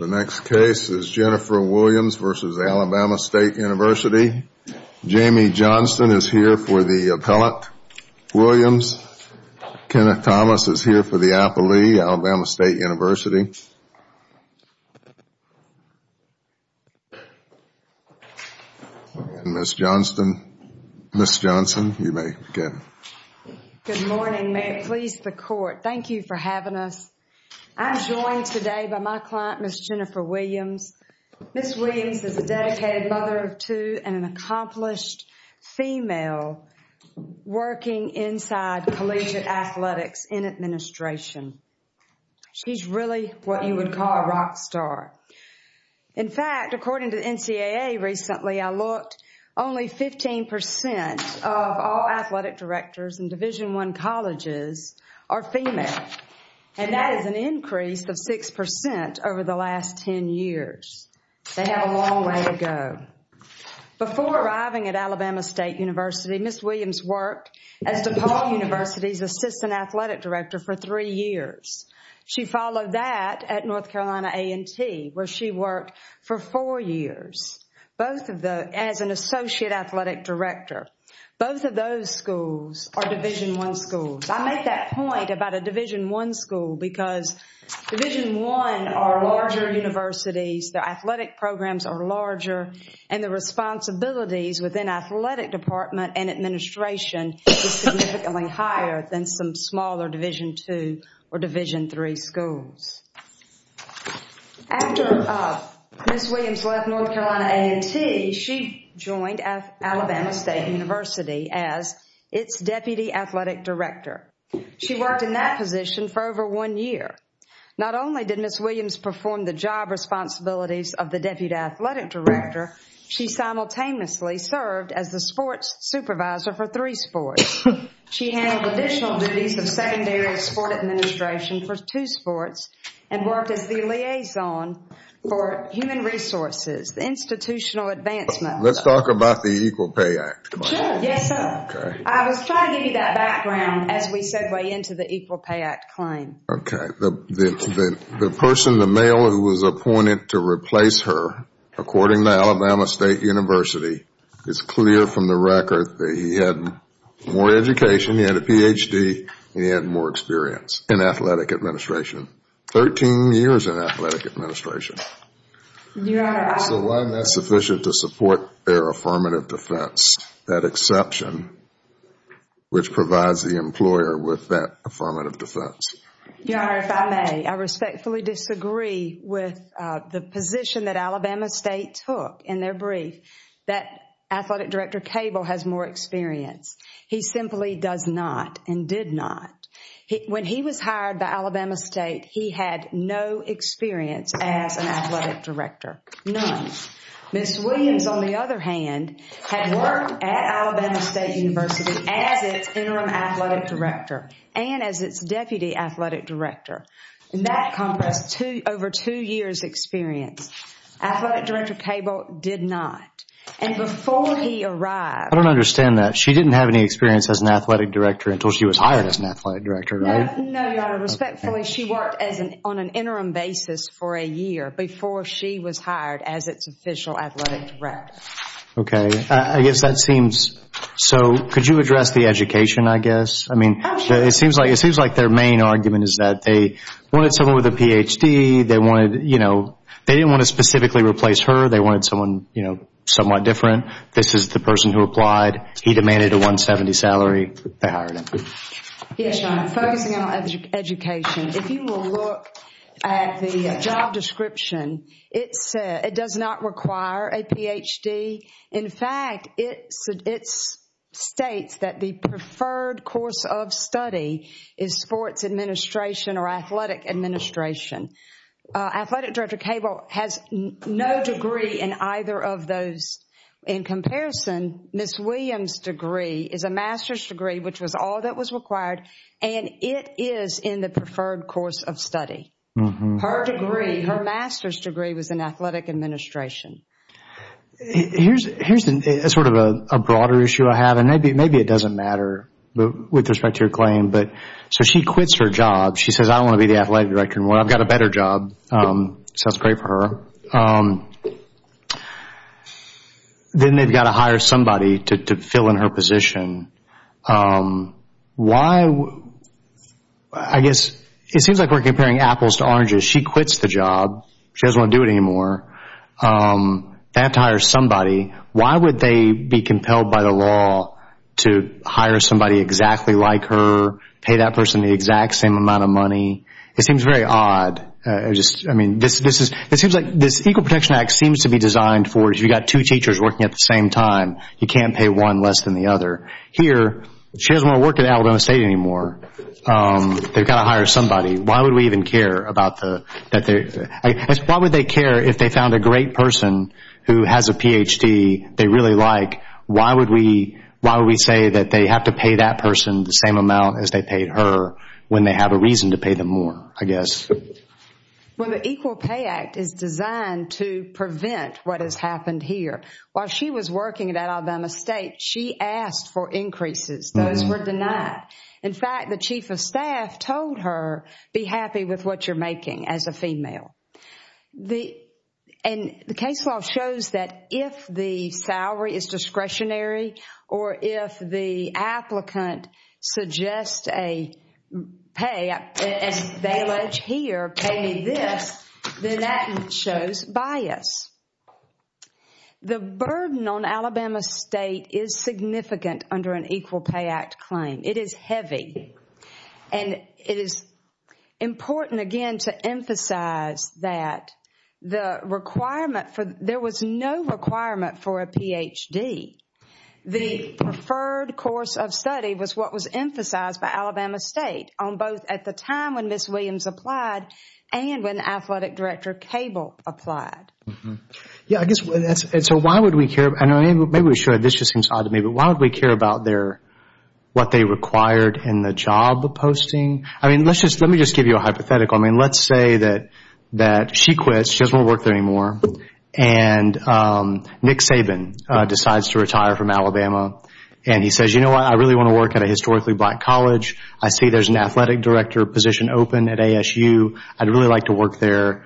The next case is Jennifer Williams v. Alabama State University. Jamie Johnston is here for the appellate. Williams, Kenneth Thomas is here for the appellate, Alabama State University. Ms. Johnston, Ms. Johnston, you may begin. Good morning. May it please the court, thank you for having us. I'm joined today by my client, Ms. Jennifer Williams. Ms. Williams is a dedicated mother of two and an accomplished female working inside collegiate athletics in administration. She's really what you would call a rock star. In fact, according to NCAA recently, I looked, only 15% of all athletic directors in Division I colleges are female, and that is an increase of 6% over the last 10 years. They have a long way to go. Before arriving at Alabama State University, Ms. Williams worked as DePaul University's assistant athletic director for three years. She followed that at North Carolina A&T, where she worked for four years, both of those, as an associate athletic director. Both of those schools are Division I schools. I make that point about a Division I school because Division I are larger universities, their athletic programs are larger, and the responsibilities within athletic department and administration is significantly higher than some smaller Division II or Division III schools. After Ms. Williams left North Carolina A&T, she joined Alabama State University as its deputy athletic director. She worked in that position for over one year. Not only did Ms. Williams perform the job responsibilities of the deputy athletic director, she simultaneously served as the sports supervisor for three sports. She handled additional duties of secondary sport administration for two sports and worked as the liaison for human resources, the institutional advancement. Let's talk about the Equal Pay Act. Sure. Yes, sir. I was trying to give you that background as we segue into the Equal Pay Act claim. Okay. The person, the male who was appointed to replace her, according to Alabama State University, is clear from the record that he had more education, he had a Ph.D., and he had more experience in athletic administration. Thirteen years in athletic administration. Your Honor, I... So why isn't that sufficient to support their affirmative defense, that exception which provides the employer with that affirmative defense? Your Honor, if I may, I respectfully disagree with the position that Alabama State took in their brief that athletic director Cable has more experience. He simply does not and did not. When he was hired by Alabama State, he had no experience as an athletic director. Ms. Williams, on the other hand, had worked at Alabama State University as its interim athletic director and as its deputy athletic director. And that compressed over two years' experience. Athletic director Cable did not. And before he arrived... I don't understand that. She didn't have any experience as an athletic director until she was hired as an athletic director, right? No, Your Honor. Respectfully, she worked on an interim basis for a year before she was hired as its official athletic director. Okay. I guess that seems... So could you address the education, I guess? I mean, it seems like their main argument is that they wanted someone with a Ph.D., they wanted, you know, they didn't want to specifically replace her. They wanted someone, you know, somewhat different. This is the person who applied. He demanded a 170 salary. They hired him. Yes, Your Honor. Focusing on education. If you will look at the job description, it does not require a Ph.D. In fact, it states that the preferred course of study is sports administration or athletic administration. Athletic director Cable has no degree in either of those. In comparison, Ms. Williams' degree is a master's degree, which was all that was required, and it is in the preferred course of study. Her degree, her master's degree was in athletic administration. Here's sort of a broader issue I have, and maybe it doesn't matter with respect to your claim. So she quits her job. She says, I don't want to be the athletic director anymore. I've got a better job. Sounds great for her. Then they've got to hire somebody to fill in her position. Why? I guess it seems like we're comparing apples to oranges. She quits the job. She doesn't want to do it anymore. They have to hire somebody. Why would they be compelled by the law to hire somebody exactly like her, pay that person the exact same amount of money? It seems very odd. It seems like this Equal Protection Act seems to be designed for you've got two teachers working at the same time. You can't pay one less than the other. Here, she doesn't want to work at Alabama State anymore. They've got to hire somebody. Why would we even care? Why would they care if they found a great person who has a Ph.D. they really like? Why would we say that they have to pay that person the same amount as they paid her when they have a reason to pay them more, I guess? Well, the Equal Pay Act is designed to prevent what has happened here. While she was working at Alabama State, she asked for increases. Those were denied. In fact, the chief of staff told her, be happy with what you're making as a female. The case law shows that if the salary is discretionary or if the applicant suggests a pay, as they allege here, pay me this, then that shows bias. The burden on Alabama State is significant under an Equal Pay Act claim. It is heavy. It is important, again, to emphasize that there was no requirement for a Ph.D. The preferred course of study was what was emphasized by Alabama State on both at the time when Ms. Williams applied and when Athletic Director Cable applied. Maybe this just seems odd to me, but why would we care about what they required in the job posting? Let me just give you a hypothetical. Let's say that she quits. She doesn't want to work there anymore. Nick Saban decides to retire from Alabama. He says, you know what? I really want to work at a historically black college. I see there's an Athletic Director position open at ASU. I'd really like to work there.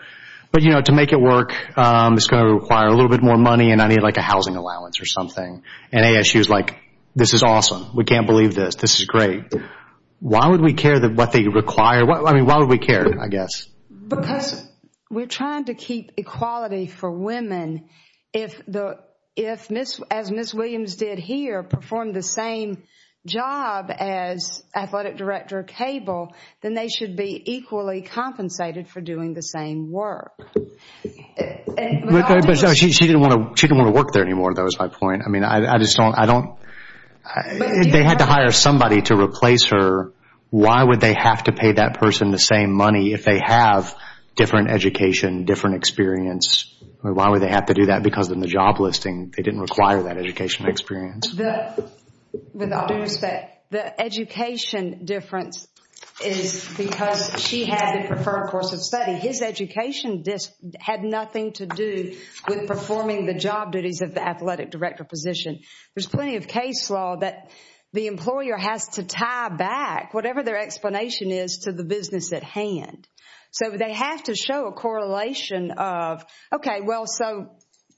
But, you know, to make it work, it's going to require a little bit more money and I need like a housing allowance or something. And ASU is like, this is awesome. We can't believe this. This is great. Why would we care what they require? I mean, why would we care, I guess? Because we're trying to keep equality for women. If, as Ms. Williams did here, perform the same job as Athletic Director Cable, then they should be equally compensated for doing the same work. But she didn't want to work there anymore, though, is my point. I mean, I just don't – they had to hire somebody to replace her. Why would they have to pay that person the same money if they have different education, different experience? Why would they have to do that? Because in the job listing, they didn't require that educational experience. With all due respect, the education difference is because she had a preferred course of study. His education had nothing to do with performing the job duties of the Athletic Director position. There's plenty of case law that the employer has to tie back, whatever their explanation is, to the business at hand. So they have to show a correlation of, okay, well, so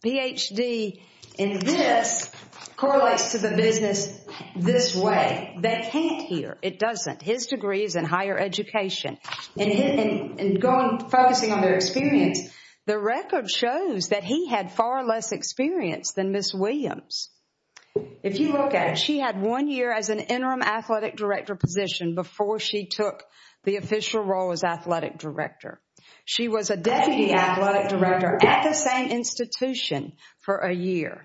PhD in this correlates to the business this way. They can't here. It doesn't. His degree is in higher education. And focusing on their experience, the record shows that he had far less experience than Ms. Williams. If you look at it, she had one year as an Interim Athletic Director position before she took the official role as Athletic Director. She was a Deputy Athletic Director at the same institution for a year.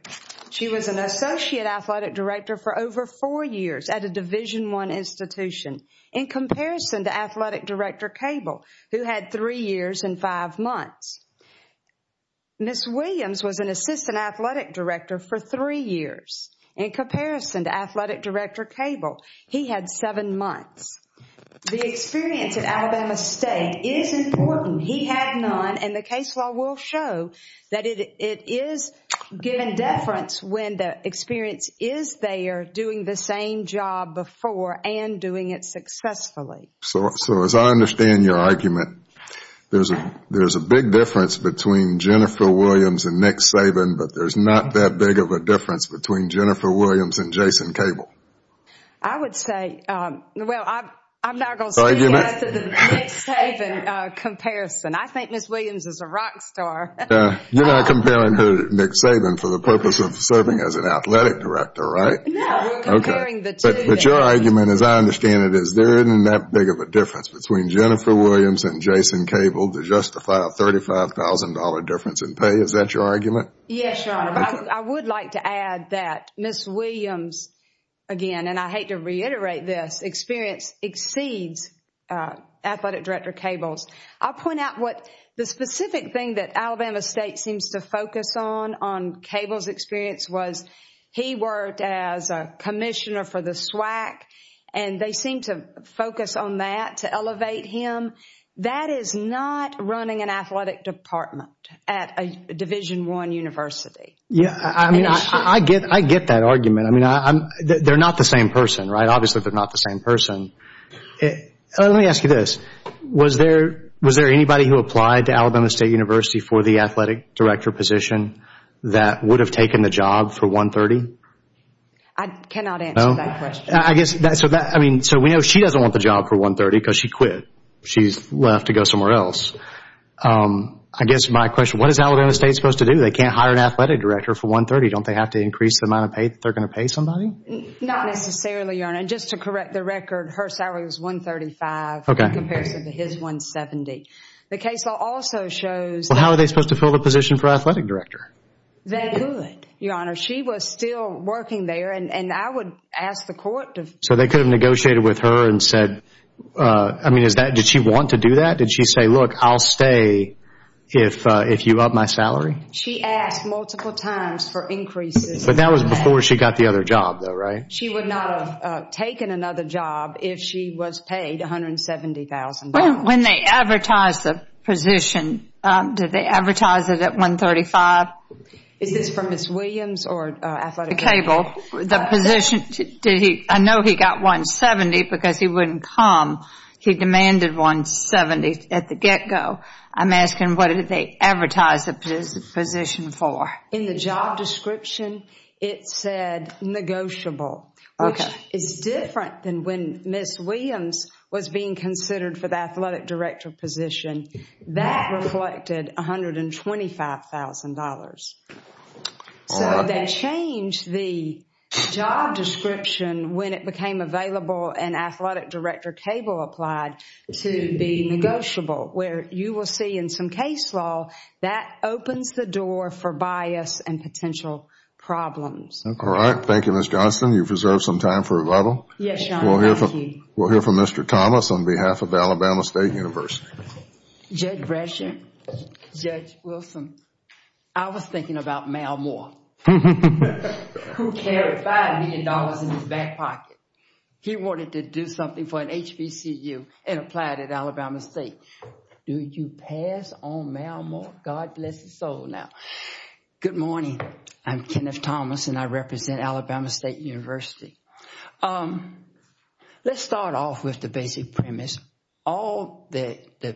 She was an Associate Athletic Director for over four years at a Division I institution in comparison to Athletic Director Cable, who had three years and five months. Ms. Williams was an Assistant Athletic Director for three years. In comparison to Athletic Director Cable, he had seven months. The experience at Alabama State is important. He had none. And the case law will show that it is given deference when the experience is there, doing the same job before and doing it successfully. So as I understand your argument, there's a big difference between Jennifer Williams and Nick Saban, but there's not that big of a difference between Jennifer Williams and Jason Cable. I would say, well, I'm not going to speak to the Nick Saban comparison. I think Ms. Williams is a rock star. You're not comparing her to Nick Saban for the purpose of serving as an Athletic Director, right? No, we're comparing the two. But your argument, as I understand it, is there isn't that big of a difference between Jennifer Williams and Jason Cable to justify a $35,000 difference in pay. Is that your argument? Yes, Your Honor. I would like to add that Ms. Williams, again, and I hate to reiterate this, experience exceeds Athletic Director Cable's. I'll point out what the specific thing that Alabama State seems to focus on, on Cable's experience was he worked as a commissioner for the SWAC, and they seem to focus on that to elevate him. That is not running an athletic department at a Division I university. I get that argument. They're not the same person, right? Obviously, they're not the same person. Let me ask you this. Was there anybody who applied to Alabama State University for the Athletic Director position that would have taken the job for $130,000? I cannot answer that question. We know she doesn't want the job for $130,000 because she quit. She's left to go somewhere else. I guess my question, what is Alabama State supposed to do? They can't hire an Athletic Director for $130,000. Don't they have to increase the amount of pay that they're going to pay somebody? Not necessarily, Your Honor. Just to correct the record, her salary was $135,000 in comparison to his $170,000. The case law also shows— How are they supposed to fill the position for Athletic Director? They could, Your Honor. She was still working there, and I would ask the court to— So they could have negotiated with her and said—I mean, did she want to do that? Did she say, look, I'll stay if you up my salary? She asked multiple times for increases. But that was before she got the other job, though, right? She would not have taken another job if she was paid $170,000. When they advertised the position, did they advertise it at $135,000? Is this from Ms. Williams or Athletic Director? The position—I know he got $170,000 because he wouldn't come. He demanded $170,000 at the get-go. I'm asking what did they advertise the position for? In the job description, it said negotiable, which is different than when Ms. Williams was being considered for the Athletic Director position. That reflected $125,000. So they changed the job description when it became available and Athletic Director cable applied to be negotiable, where you will see in some case law that opens the door for bias and potential problems. All right. Thank you, Ms. Johnston. You've reserved some time for rebuttal. Yes, Your Honor. Thank you. We'll hear from Mr. Thomas on behalf of Alabama State University. Judge Brescia, Judge Wilson, I was thinking about Mal Moore, who carried $5 million in his back pocket. He wanted to do something for an HBCU and applied at Alabama State. Do you pass on Mal Moore? God bless his soul now. Good morning. I'm Kenneth Thomas, and I represent Alabama State University. Let's start off with the basic premise. All that the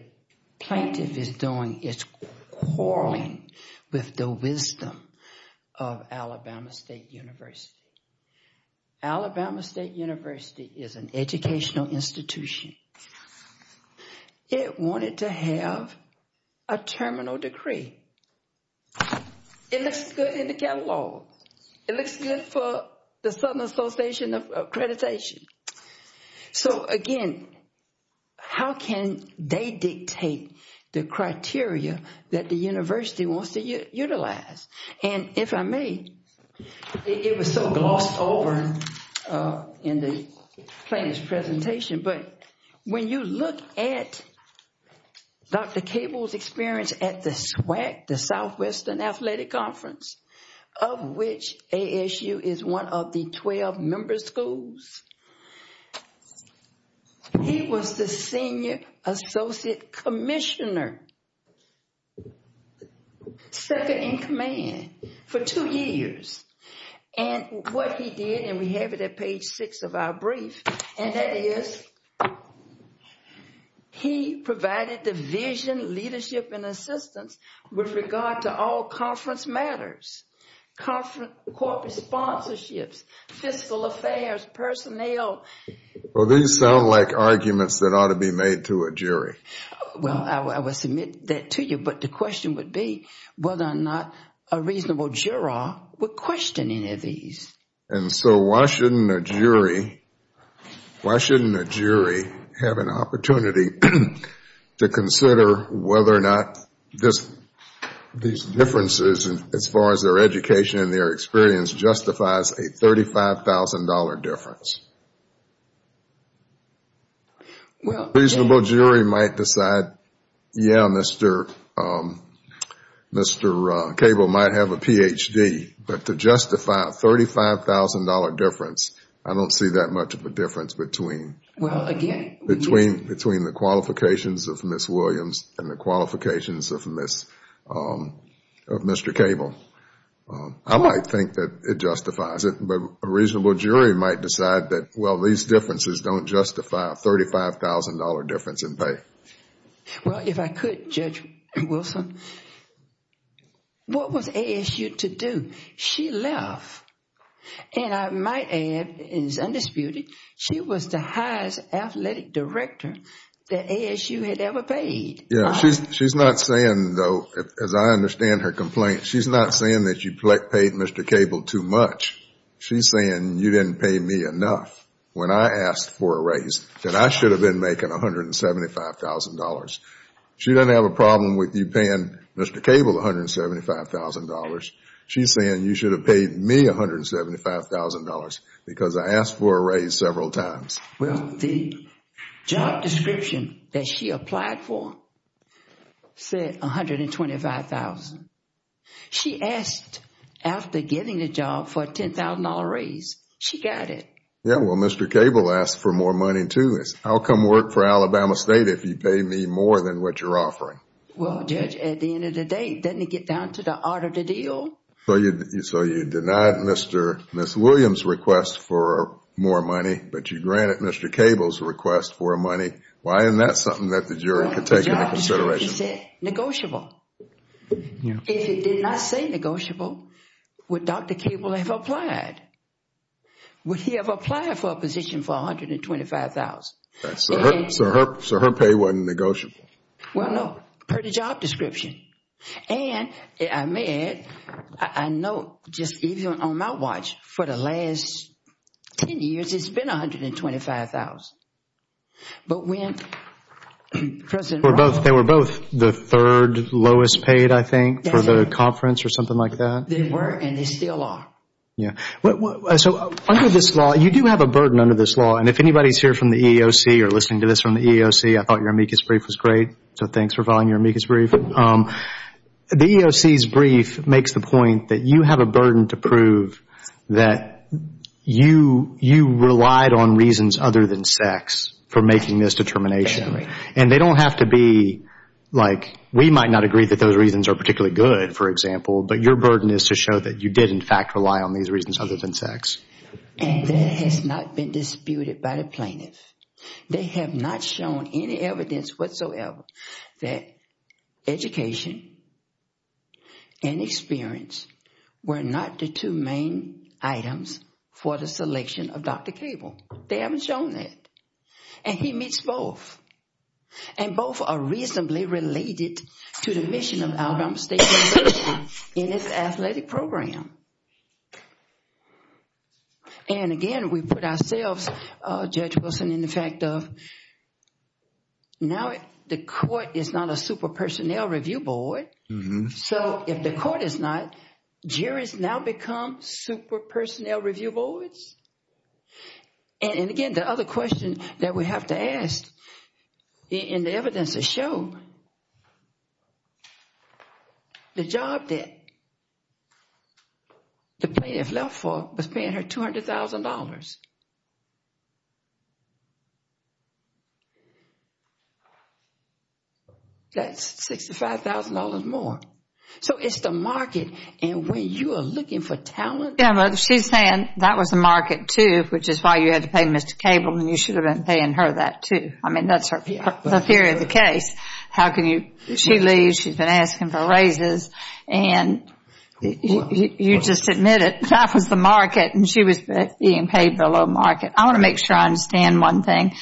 plaintiff is doing is quarreling with the wisdom of Alabama State University. Alabama State University is an educational institution. It wanted to have a terminal decree. It looks good in the catalog. It looks good for the Southern Association of Accreditation. So again, how can they dictate the criteria that the university wants to utilize? And if I may, it was so glossed over in the plaintiff's presentation, but when you look at Dr. Cable's experience at the SWAC, the Southwestern Athletic Conference, of which ASU is one of the 12 member schools, he was the senior associate commissioner, second in command, for two years. And what he did, and we have it at page 6 of our brief, and that is he provided the vision, leadership, and assistance with regard to all conference matters, corporate sponsorships, fiscal affairs, personnel. Well, these sound like arguments that ought to be made to a jury. Well, I will submit that to you, but the question would be whether or not a reasonable juror would question any of these. And so why shouldn't a jury have an opportunity to consider whether or not these differences, as far as their education and their experience, justifies a $35,000 difference? A reasonable jury might decide, yeah, Mr. Cable might have a Ph.D., but to justify a $35,000 difference, I don't see that much of a difference between the qualifications of Ms. Williams and the qualifications of Mr. Cable. I might think that it justifies it, but a reasonable jury might decide that, well, these differences don't justify a $35,000 difference in pay. Well, if I could, Judge Wilson, what was ASU to do? She left, and I might add, it is undisputed, she was the highest athletic director that ASU had ever paid. Yeah, she's not saying, though, as I understand her complaint, she's not saying that you paid Mr. Cable too much. She's saying you didn't pay me enough when I asked for a raise, that I should have been making $175,000. She doesn't have a problem with you paying Mr. Cable $175,000. She's saying you should have paid me $175,000 because I asked for a raise several times. Well, the job description that she applied for said $125,000. She asked after getting the job for a $10,000 raise. She got it. Yeah, well, Mr. Cable asked for more money, too. How come work for Alabama State if you pay me more than what you're offering? Well, Judge, at the end of the day, doesn't it get down to the art of the deal? So you denied Ms. Williams' request for more money, but you granted Mr. Cable's request for money. Why isn't that something that the jury could take into consideration? He said negotiable. If it did not say negotiable, would Dr. Cable have applied? Would he have applied for a position for $125,000? So her pay wasn't negotiable? Well, no, per the job description. And I may add, I know just even on my watch, for the last 10 years, it's been $125,000. They were both the third lowest paid, I think, for the conference or something like that? They were, and they still are. Yeah. So under this law, you do have a burden under this law. And if anybody's here from the EEOC or listening to this from the EEOC, I thought your amicus brief was great. So thanks for following your amicus brief. The EEOC's brief makes the point that you have a burden to prove that you relied on reasons other than sex for making this determination. And they don't have to be like we might not agree that those reasons are particularly good, for example, but your burden is to show that you did, in fact, rely on these reasons other than sex. And that has not been disputed by the plaintiff. They have not shown any evidence whatsoever that education and experience were not the two main items for the selection of Dr. Cable. They haven't shown that. And he meets both. And both are reasonably related to the mission of Alabama State University in its athletic program. And again, we put ourselves, Judge Wilson, in the fact of now the court is not a super-personnel review board. So if the court is not, juries now become super-personnel review boards? And again, the other question that we have to ask, and the evidence has shown, the job that the plaintiff left for was paying her $200,000. That's $65,000 more. So it's the market. And when you are looking for talent. She's saying that was the market, too, which is why you had to pay Mr. Cable. And you should have been paying her that, too. I mean, that's the theory of the case. How can you? She leaves. She's been asking for raises. And you just admit it. That was the market. And she was being paid below market. I want to make sure I understand one thing.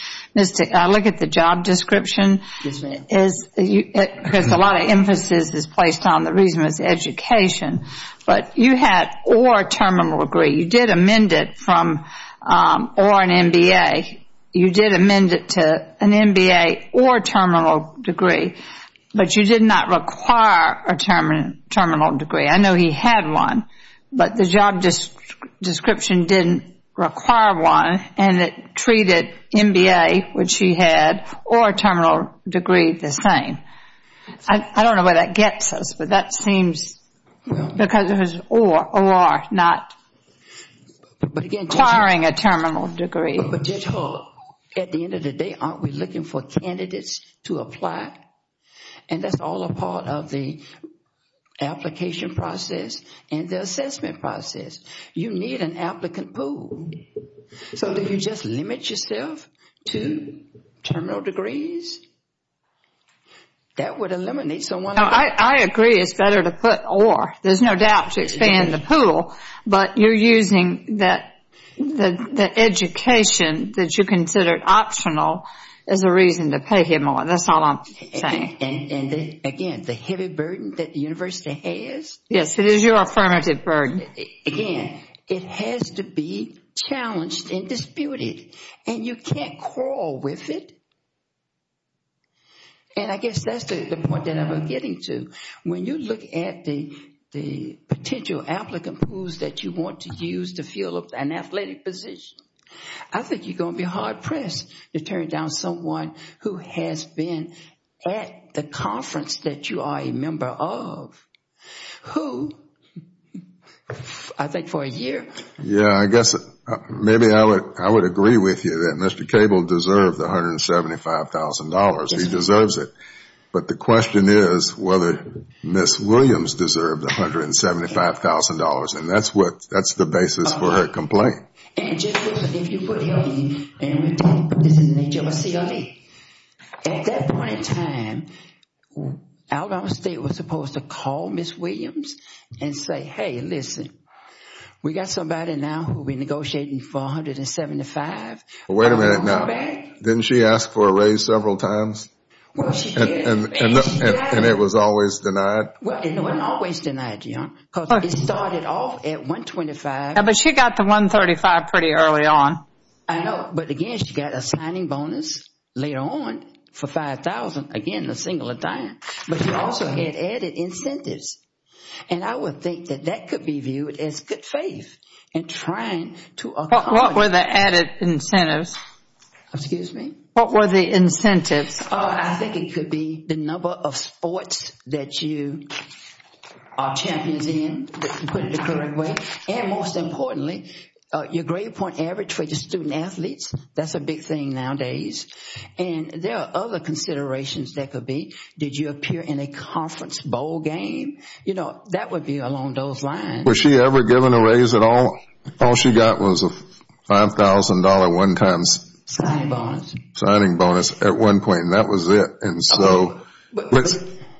I look at the job description. Yes, ma'am. Because a lot of emphasis is placed on the reason was education. But you had or terminal degree. You did amend it from or an MBA. You did amend it to an MBA or terminal degree. But you did not require a terminal degree. I know he had one. But the job description didn't require one, and it treated MBA, which he had, or terminal degree the same. I don't know where that gets us. But that seems because it was or, not requiring a terminal degree. At the end of the day, aren't we looking for candidates to apply? And that's all a part of the application process and the assessment process. You need an applicant pool. So if you just limit yourself to terminal degrees, that would eliminate someone. I agree it's better to put or. There's no doubt to expand the pool. But you're using the education that you considered optional as a reason to pay him or. That's all I'm saying. And, again, the heavy burden that the university has. Yes, it is your affirmative burden. Again, it has to be challenged and disputed. And you can't crawl with it. And I guess that's the point that I'm getting to. When you look at the potential applicant pools that you want to use to fill an athletic position, I think you're going to be hard-pressed to turn down someone who has been at the conference that you are a member of. Who? I think for a year. Yeah, I guess maybe I would agree with you that Mr. Cable deserved the $175,000. He deserves it. But the question is whether Ms. Williams deserved the $175,000. And that's the basis for her complaint. And just listen. If you put here and this is an HLSE. At that point in time, Alabama State was supposed to call Ms. Williams and say, Hey, listen, we got somebody now who will be negotiating $475,000. Wait a minute now. Didn't she ask for a raise several times? And it was always denied? It wasn't always denied, John, because it started off at $125,000. But she got the $135,000 pretty early on. I know. But, again, she got a signing bonus later on for $5,000, again, a single time. But she also had added incentives. And I would think that that could be viewed as good faith in trying to accomplish. What were the added incentives? Excuse me? What were the incentives? I think it could be the number of sports that you are champions in, to put it the correct way. And, most importantly, your grade point average for the student-athletes. That's a big thing nowadays. And there are other considerations that could be. Did you appear in a conference bowl game? You know, that would be along those lines. Was she ever given a raise at all? All she got was a $5,000 one-time signing bonus at one point, and that was it.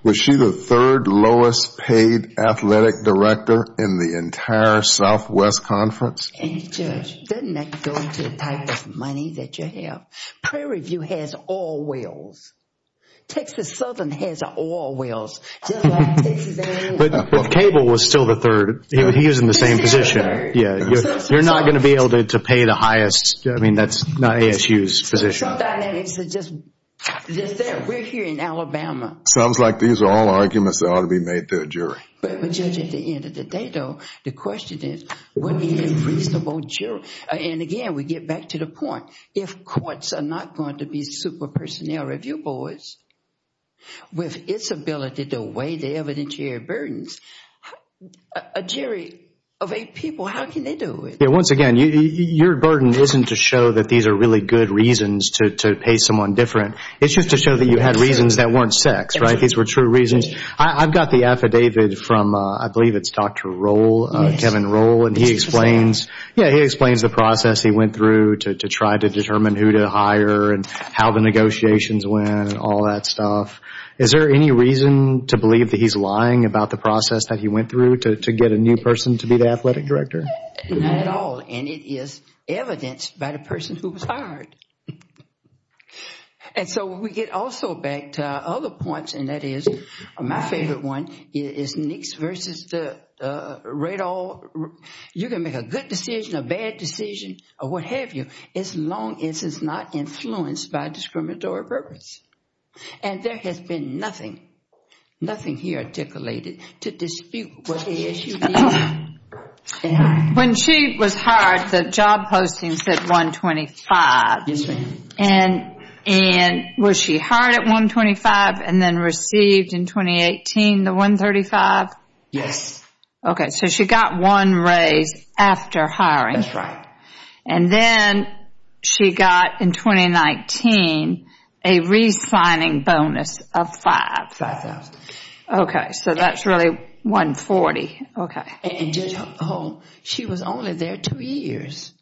Was she the third lowest paid athletic director in the entire Southwest Conference? Judge, doesn't that go to the type of money that you have? Prairie View has all wheels. Texas Southern has all wheels. But Cable was still the third. He was in the same position. You're not going to be able to pay the highest. I mean, that's not ASU's position. Some dynamics are just there. We're here in Alabama. Sounds like these are all arguments that ought to be made to a jury. But, Judge, at the end of the day, though, the question is, would we need a reasonable jury? And, again, we get back to the point. If courts are not going to be super personnel review boards with its ability to weigh the evidentiary burdens, a jury of eight people, how can they do it? Once again, your burden isn't to show that these are really good reasons to pay someone different. It's just to show that you had reasons that weren't sex, right? These were true reasons. I've got the affidavit from, I believe it's Dr. Roll, Kevin Roll, and he explains the process he went through to try to determine who to hire and how the negotiations went and all that stuff. Is there any reason to believe that he's lying about the process that he went through to get a new person to be the athletic director? Not at all. And it is evidenced by the person who was hired. And so we get also back to other points, and that is my favorite one, is Nix versus Radoll. You can make a good decision, a bad decision, or what have you, as long as it's not influenced by discriminatory purpose. And there has been nothing, nothing he articulated to dispute what the issue is. When she was hired, the job posting said 125. Yes, ma'am. And was she hired at 125 and then received in 2018 the 135? Yes. Okay, so she got one raise after hiring. That's right. And then she got in 2019 a re-signing bonus of 5. 5,000. Okay, so that's really 140. And she was only there two years.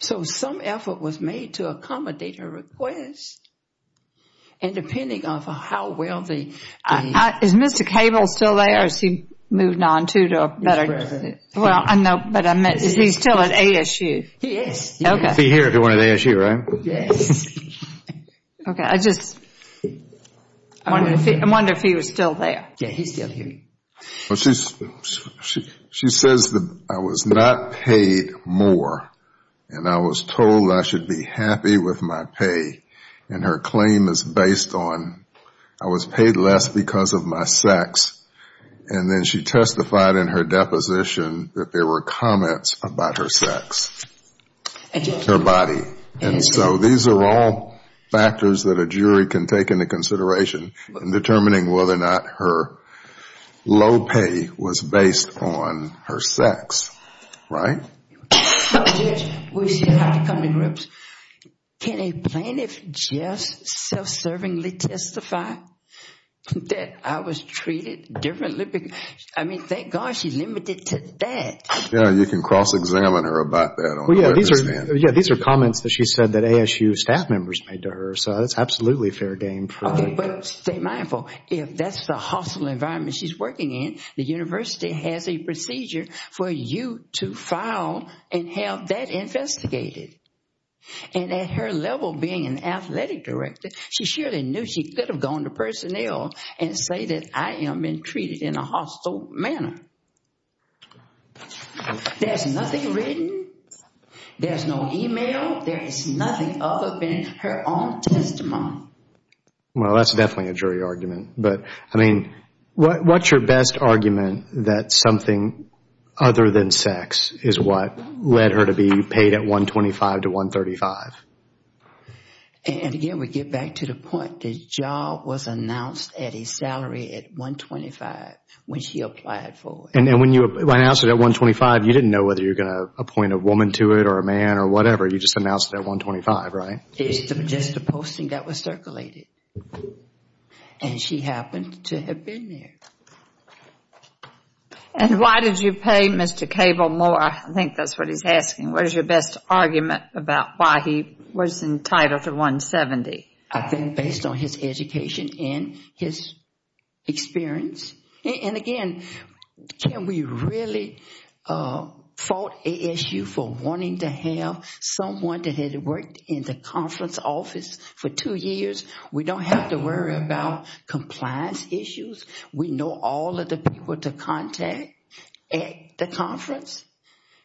So some effort was made to accommodate her request. And depending on how well the... Is Mr. Cable still there or has he moved on to a better... Well, I know, but he's still at ASU. He is. He'd be here if he went to ASU, right? Yes. Okay, I just wonder if he was still there. Yeah, he's still here. She says that I was not paid more, and I was told I should be happy with my pay. And her claim is based on I was paid less because of my sex. And then she testified in her deposition that there were comments about her sex, her body. And so these are all factors that a jury can take into consideration in determining whether or not her low pay was based on her sex, right? Judge, we still have to come to grips. Can a plaintiff just self-servingly testify that I was treated differently? I mean, thank God she's limited to that. Yeah, you can cross-examine her about that. Well, yeah, these are comments that she said that ASU staff members made to her. So that's absolutely fair game. Okay, but stay mindful. If that's the hostile environment she's working in, the university has a procedure for you to file and have that investigated. And at her level being an athletic director, she surely knew she could have gone to personnel and say that I am being treated in a hostile manner. There's nothing written. There's no email. There is nothing other than her own testimony. Well, that's definitely a jury argument. But, I mean, what's your best argument that something other than sex is what led her to be paid at $125 to $135? And, again, we get back to the point. The job was announced at his salary at $125 when she applied for it. And when you announced it at $125, you didn't know whether you were going to appoint a woman to it or a man or whatever. You just announced it at $125, right? It's just a posting that was circulated. And she happened to have been there. And why did you pay Mr. Cable more? I think that's what he's asking. What is your best argument about why he was entitled to $170? I think based on his education and his experience. And, again, can we really fault ASU for wanting to have someone that had worked in the conference office for two years we don't have to worry about compliance issues. We know all of the people to contact at the conference.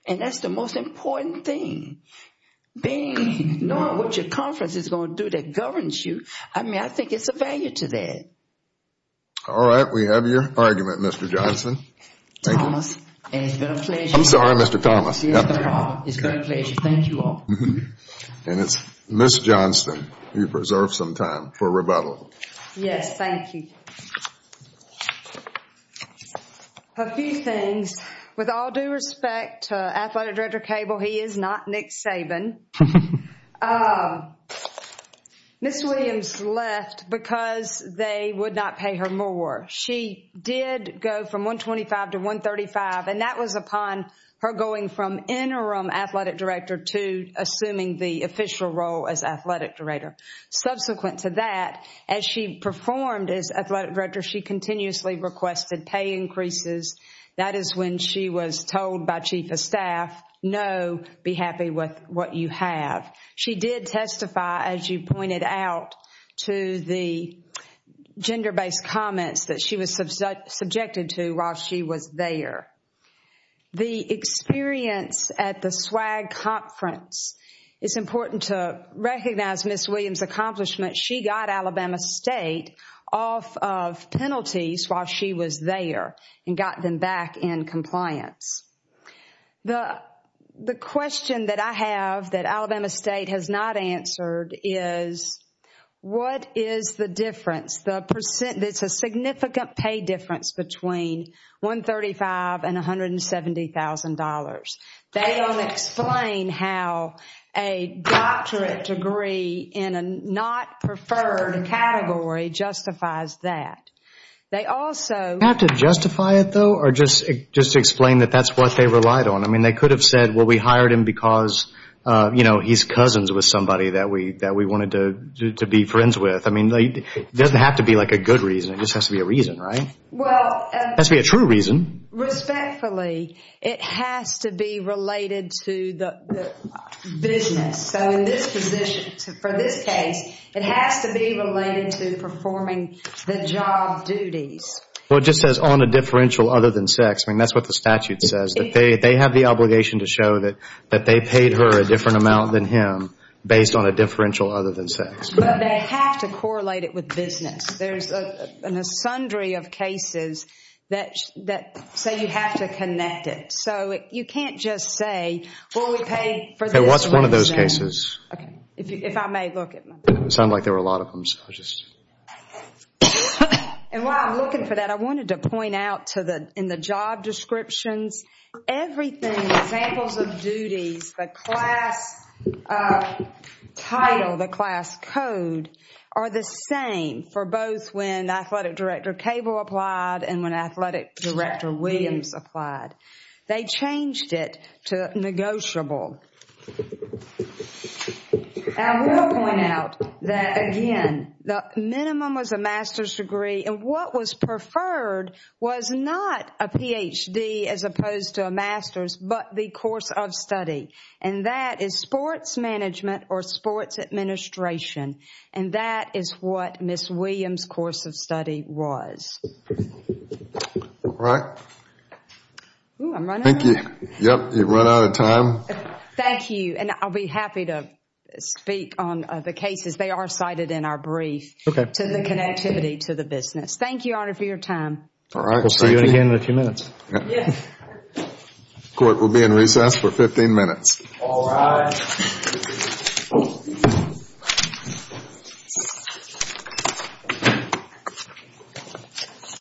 And that's the most important thing. Knowing what your conference is going to do that governs you, I mean, I think it's a value to that. All right. We have your argument, Mr. Johnson. Thomas, it's been a pleasure. I'm sorry, Mr. Thomas. It's been a pleasure. Thank you all. And it's Ms. Johnston who preserves some time for rebuttal. Yes, thank you. A few things. With all due respect to Athletic Director Cable, he is not Nick Saban. Ms. Williams left because they would not pay her more. She did go from $125 to $135, and that was upon her going from Interim Athletic Director to assuming the official role as Athletic Director. Subsequent to that, as she performed as Athletic Director, she continuously requested pay increases. That is when she was told by Chief of Staff, no, be happy with what you have. She did testify, as you pointed out, to the gender-based comments that she was subjected to while she was there. The experience at the SWAG Conference, it's important to recognize Ms. Williams' accomplishment. She got Alabama State off of penalties while she was there and got them back in compliance. The question that I have that Alabama State has not answered is, what is the difference? It's a significant pay difference between $135,000 and $170,000. They don't explain how a doctorate degree in a not-preferred category justifies that. They also have to justify it, though, or just explain that that's what they relied on. I mean, they could have said, well, we hired him because, you know, he's cousins with somebody that we wanted to be friends with. I mean, it doesn't have to be, like, a good reason. It just has to be a reason, right? It has to be a true reason. Respectfully, it has to be related to the business. So in this position, for this case, it has to be related to performing the job duties. Well, it just says on a differential other than sex. I mean, that's what the statute says, that they have the obligation to show that they paid her a different amount than him based on a differential other than sex. But they have to correlate it with business. There's an asundry of cases that say you have to connect it. So you can't just say, well, we paid for this. Okay, what's one of those cases? Okay, if I may look at my notes. It sounded like there were a lot of them, so I'll just. And while I'm looking for that, I wanted to point out in the job descriptions, everything, examples of duties, the class title, the class code, are the same for both when athletic director Cable applied and when athletic director Williams applied. They changed it to negotiable. I will point out that, again, the minimum was a master's degree, and what was preferred was not a PhD as opposed to a master's, but the course of study. And that is sports management or sports administration. And that is what Ms. Williams' course of study was. All right. Oh, I'm running out of time. Thank you. Yep, you've run out of time. Thank you, and I'll be happy to speak on the cases. They are cited in our brief to the connectivity to the business. Thank you, Your Honor, for your time. All right, thank you. We'll see you again in a few minutes. Yes. Court will be in recess for 15 minutes. All rise.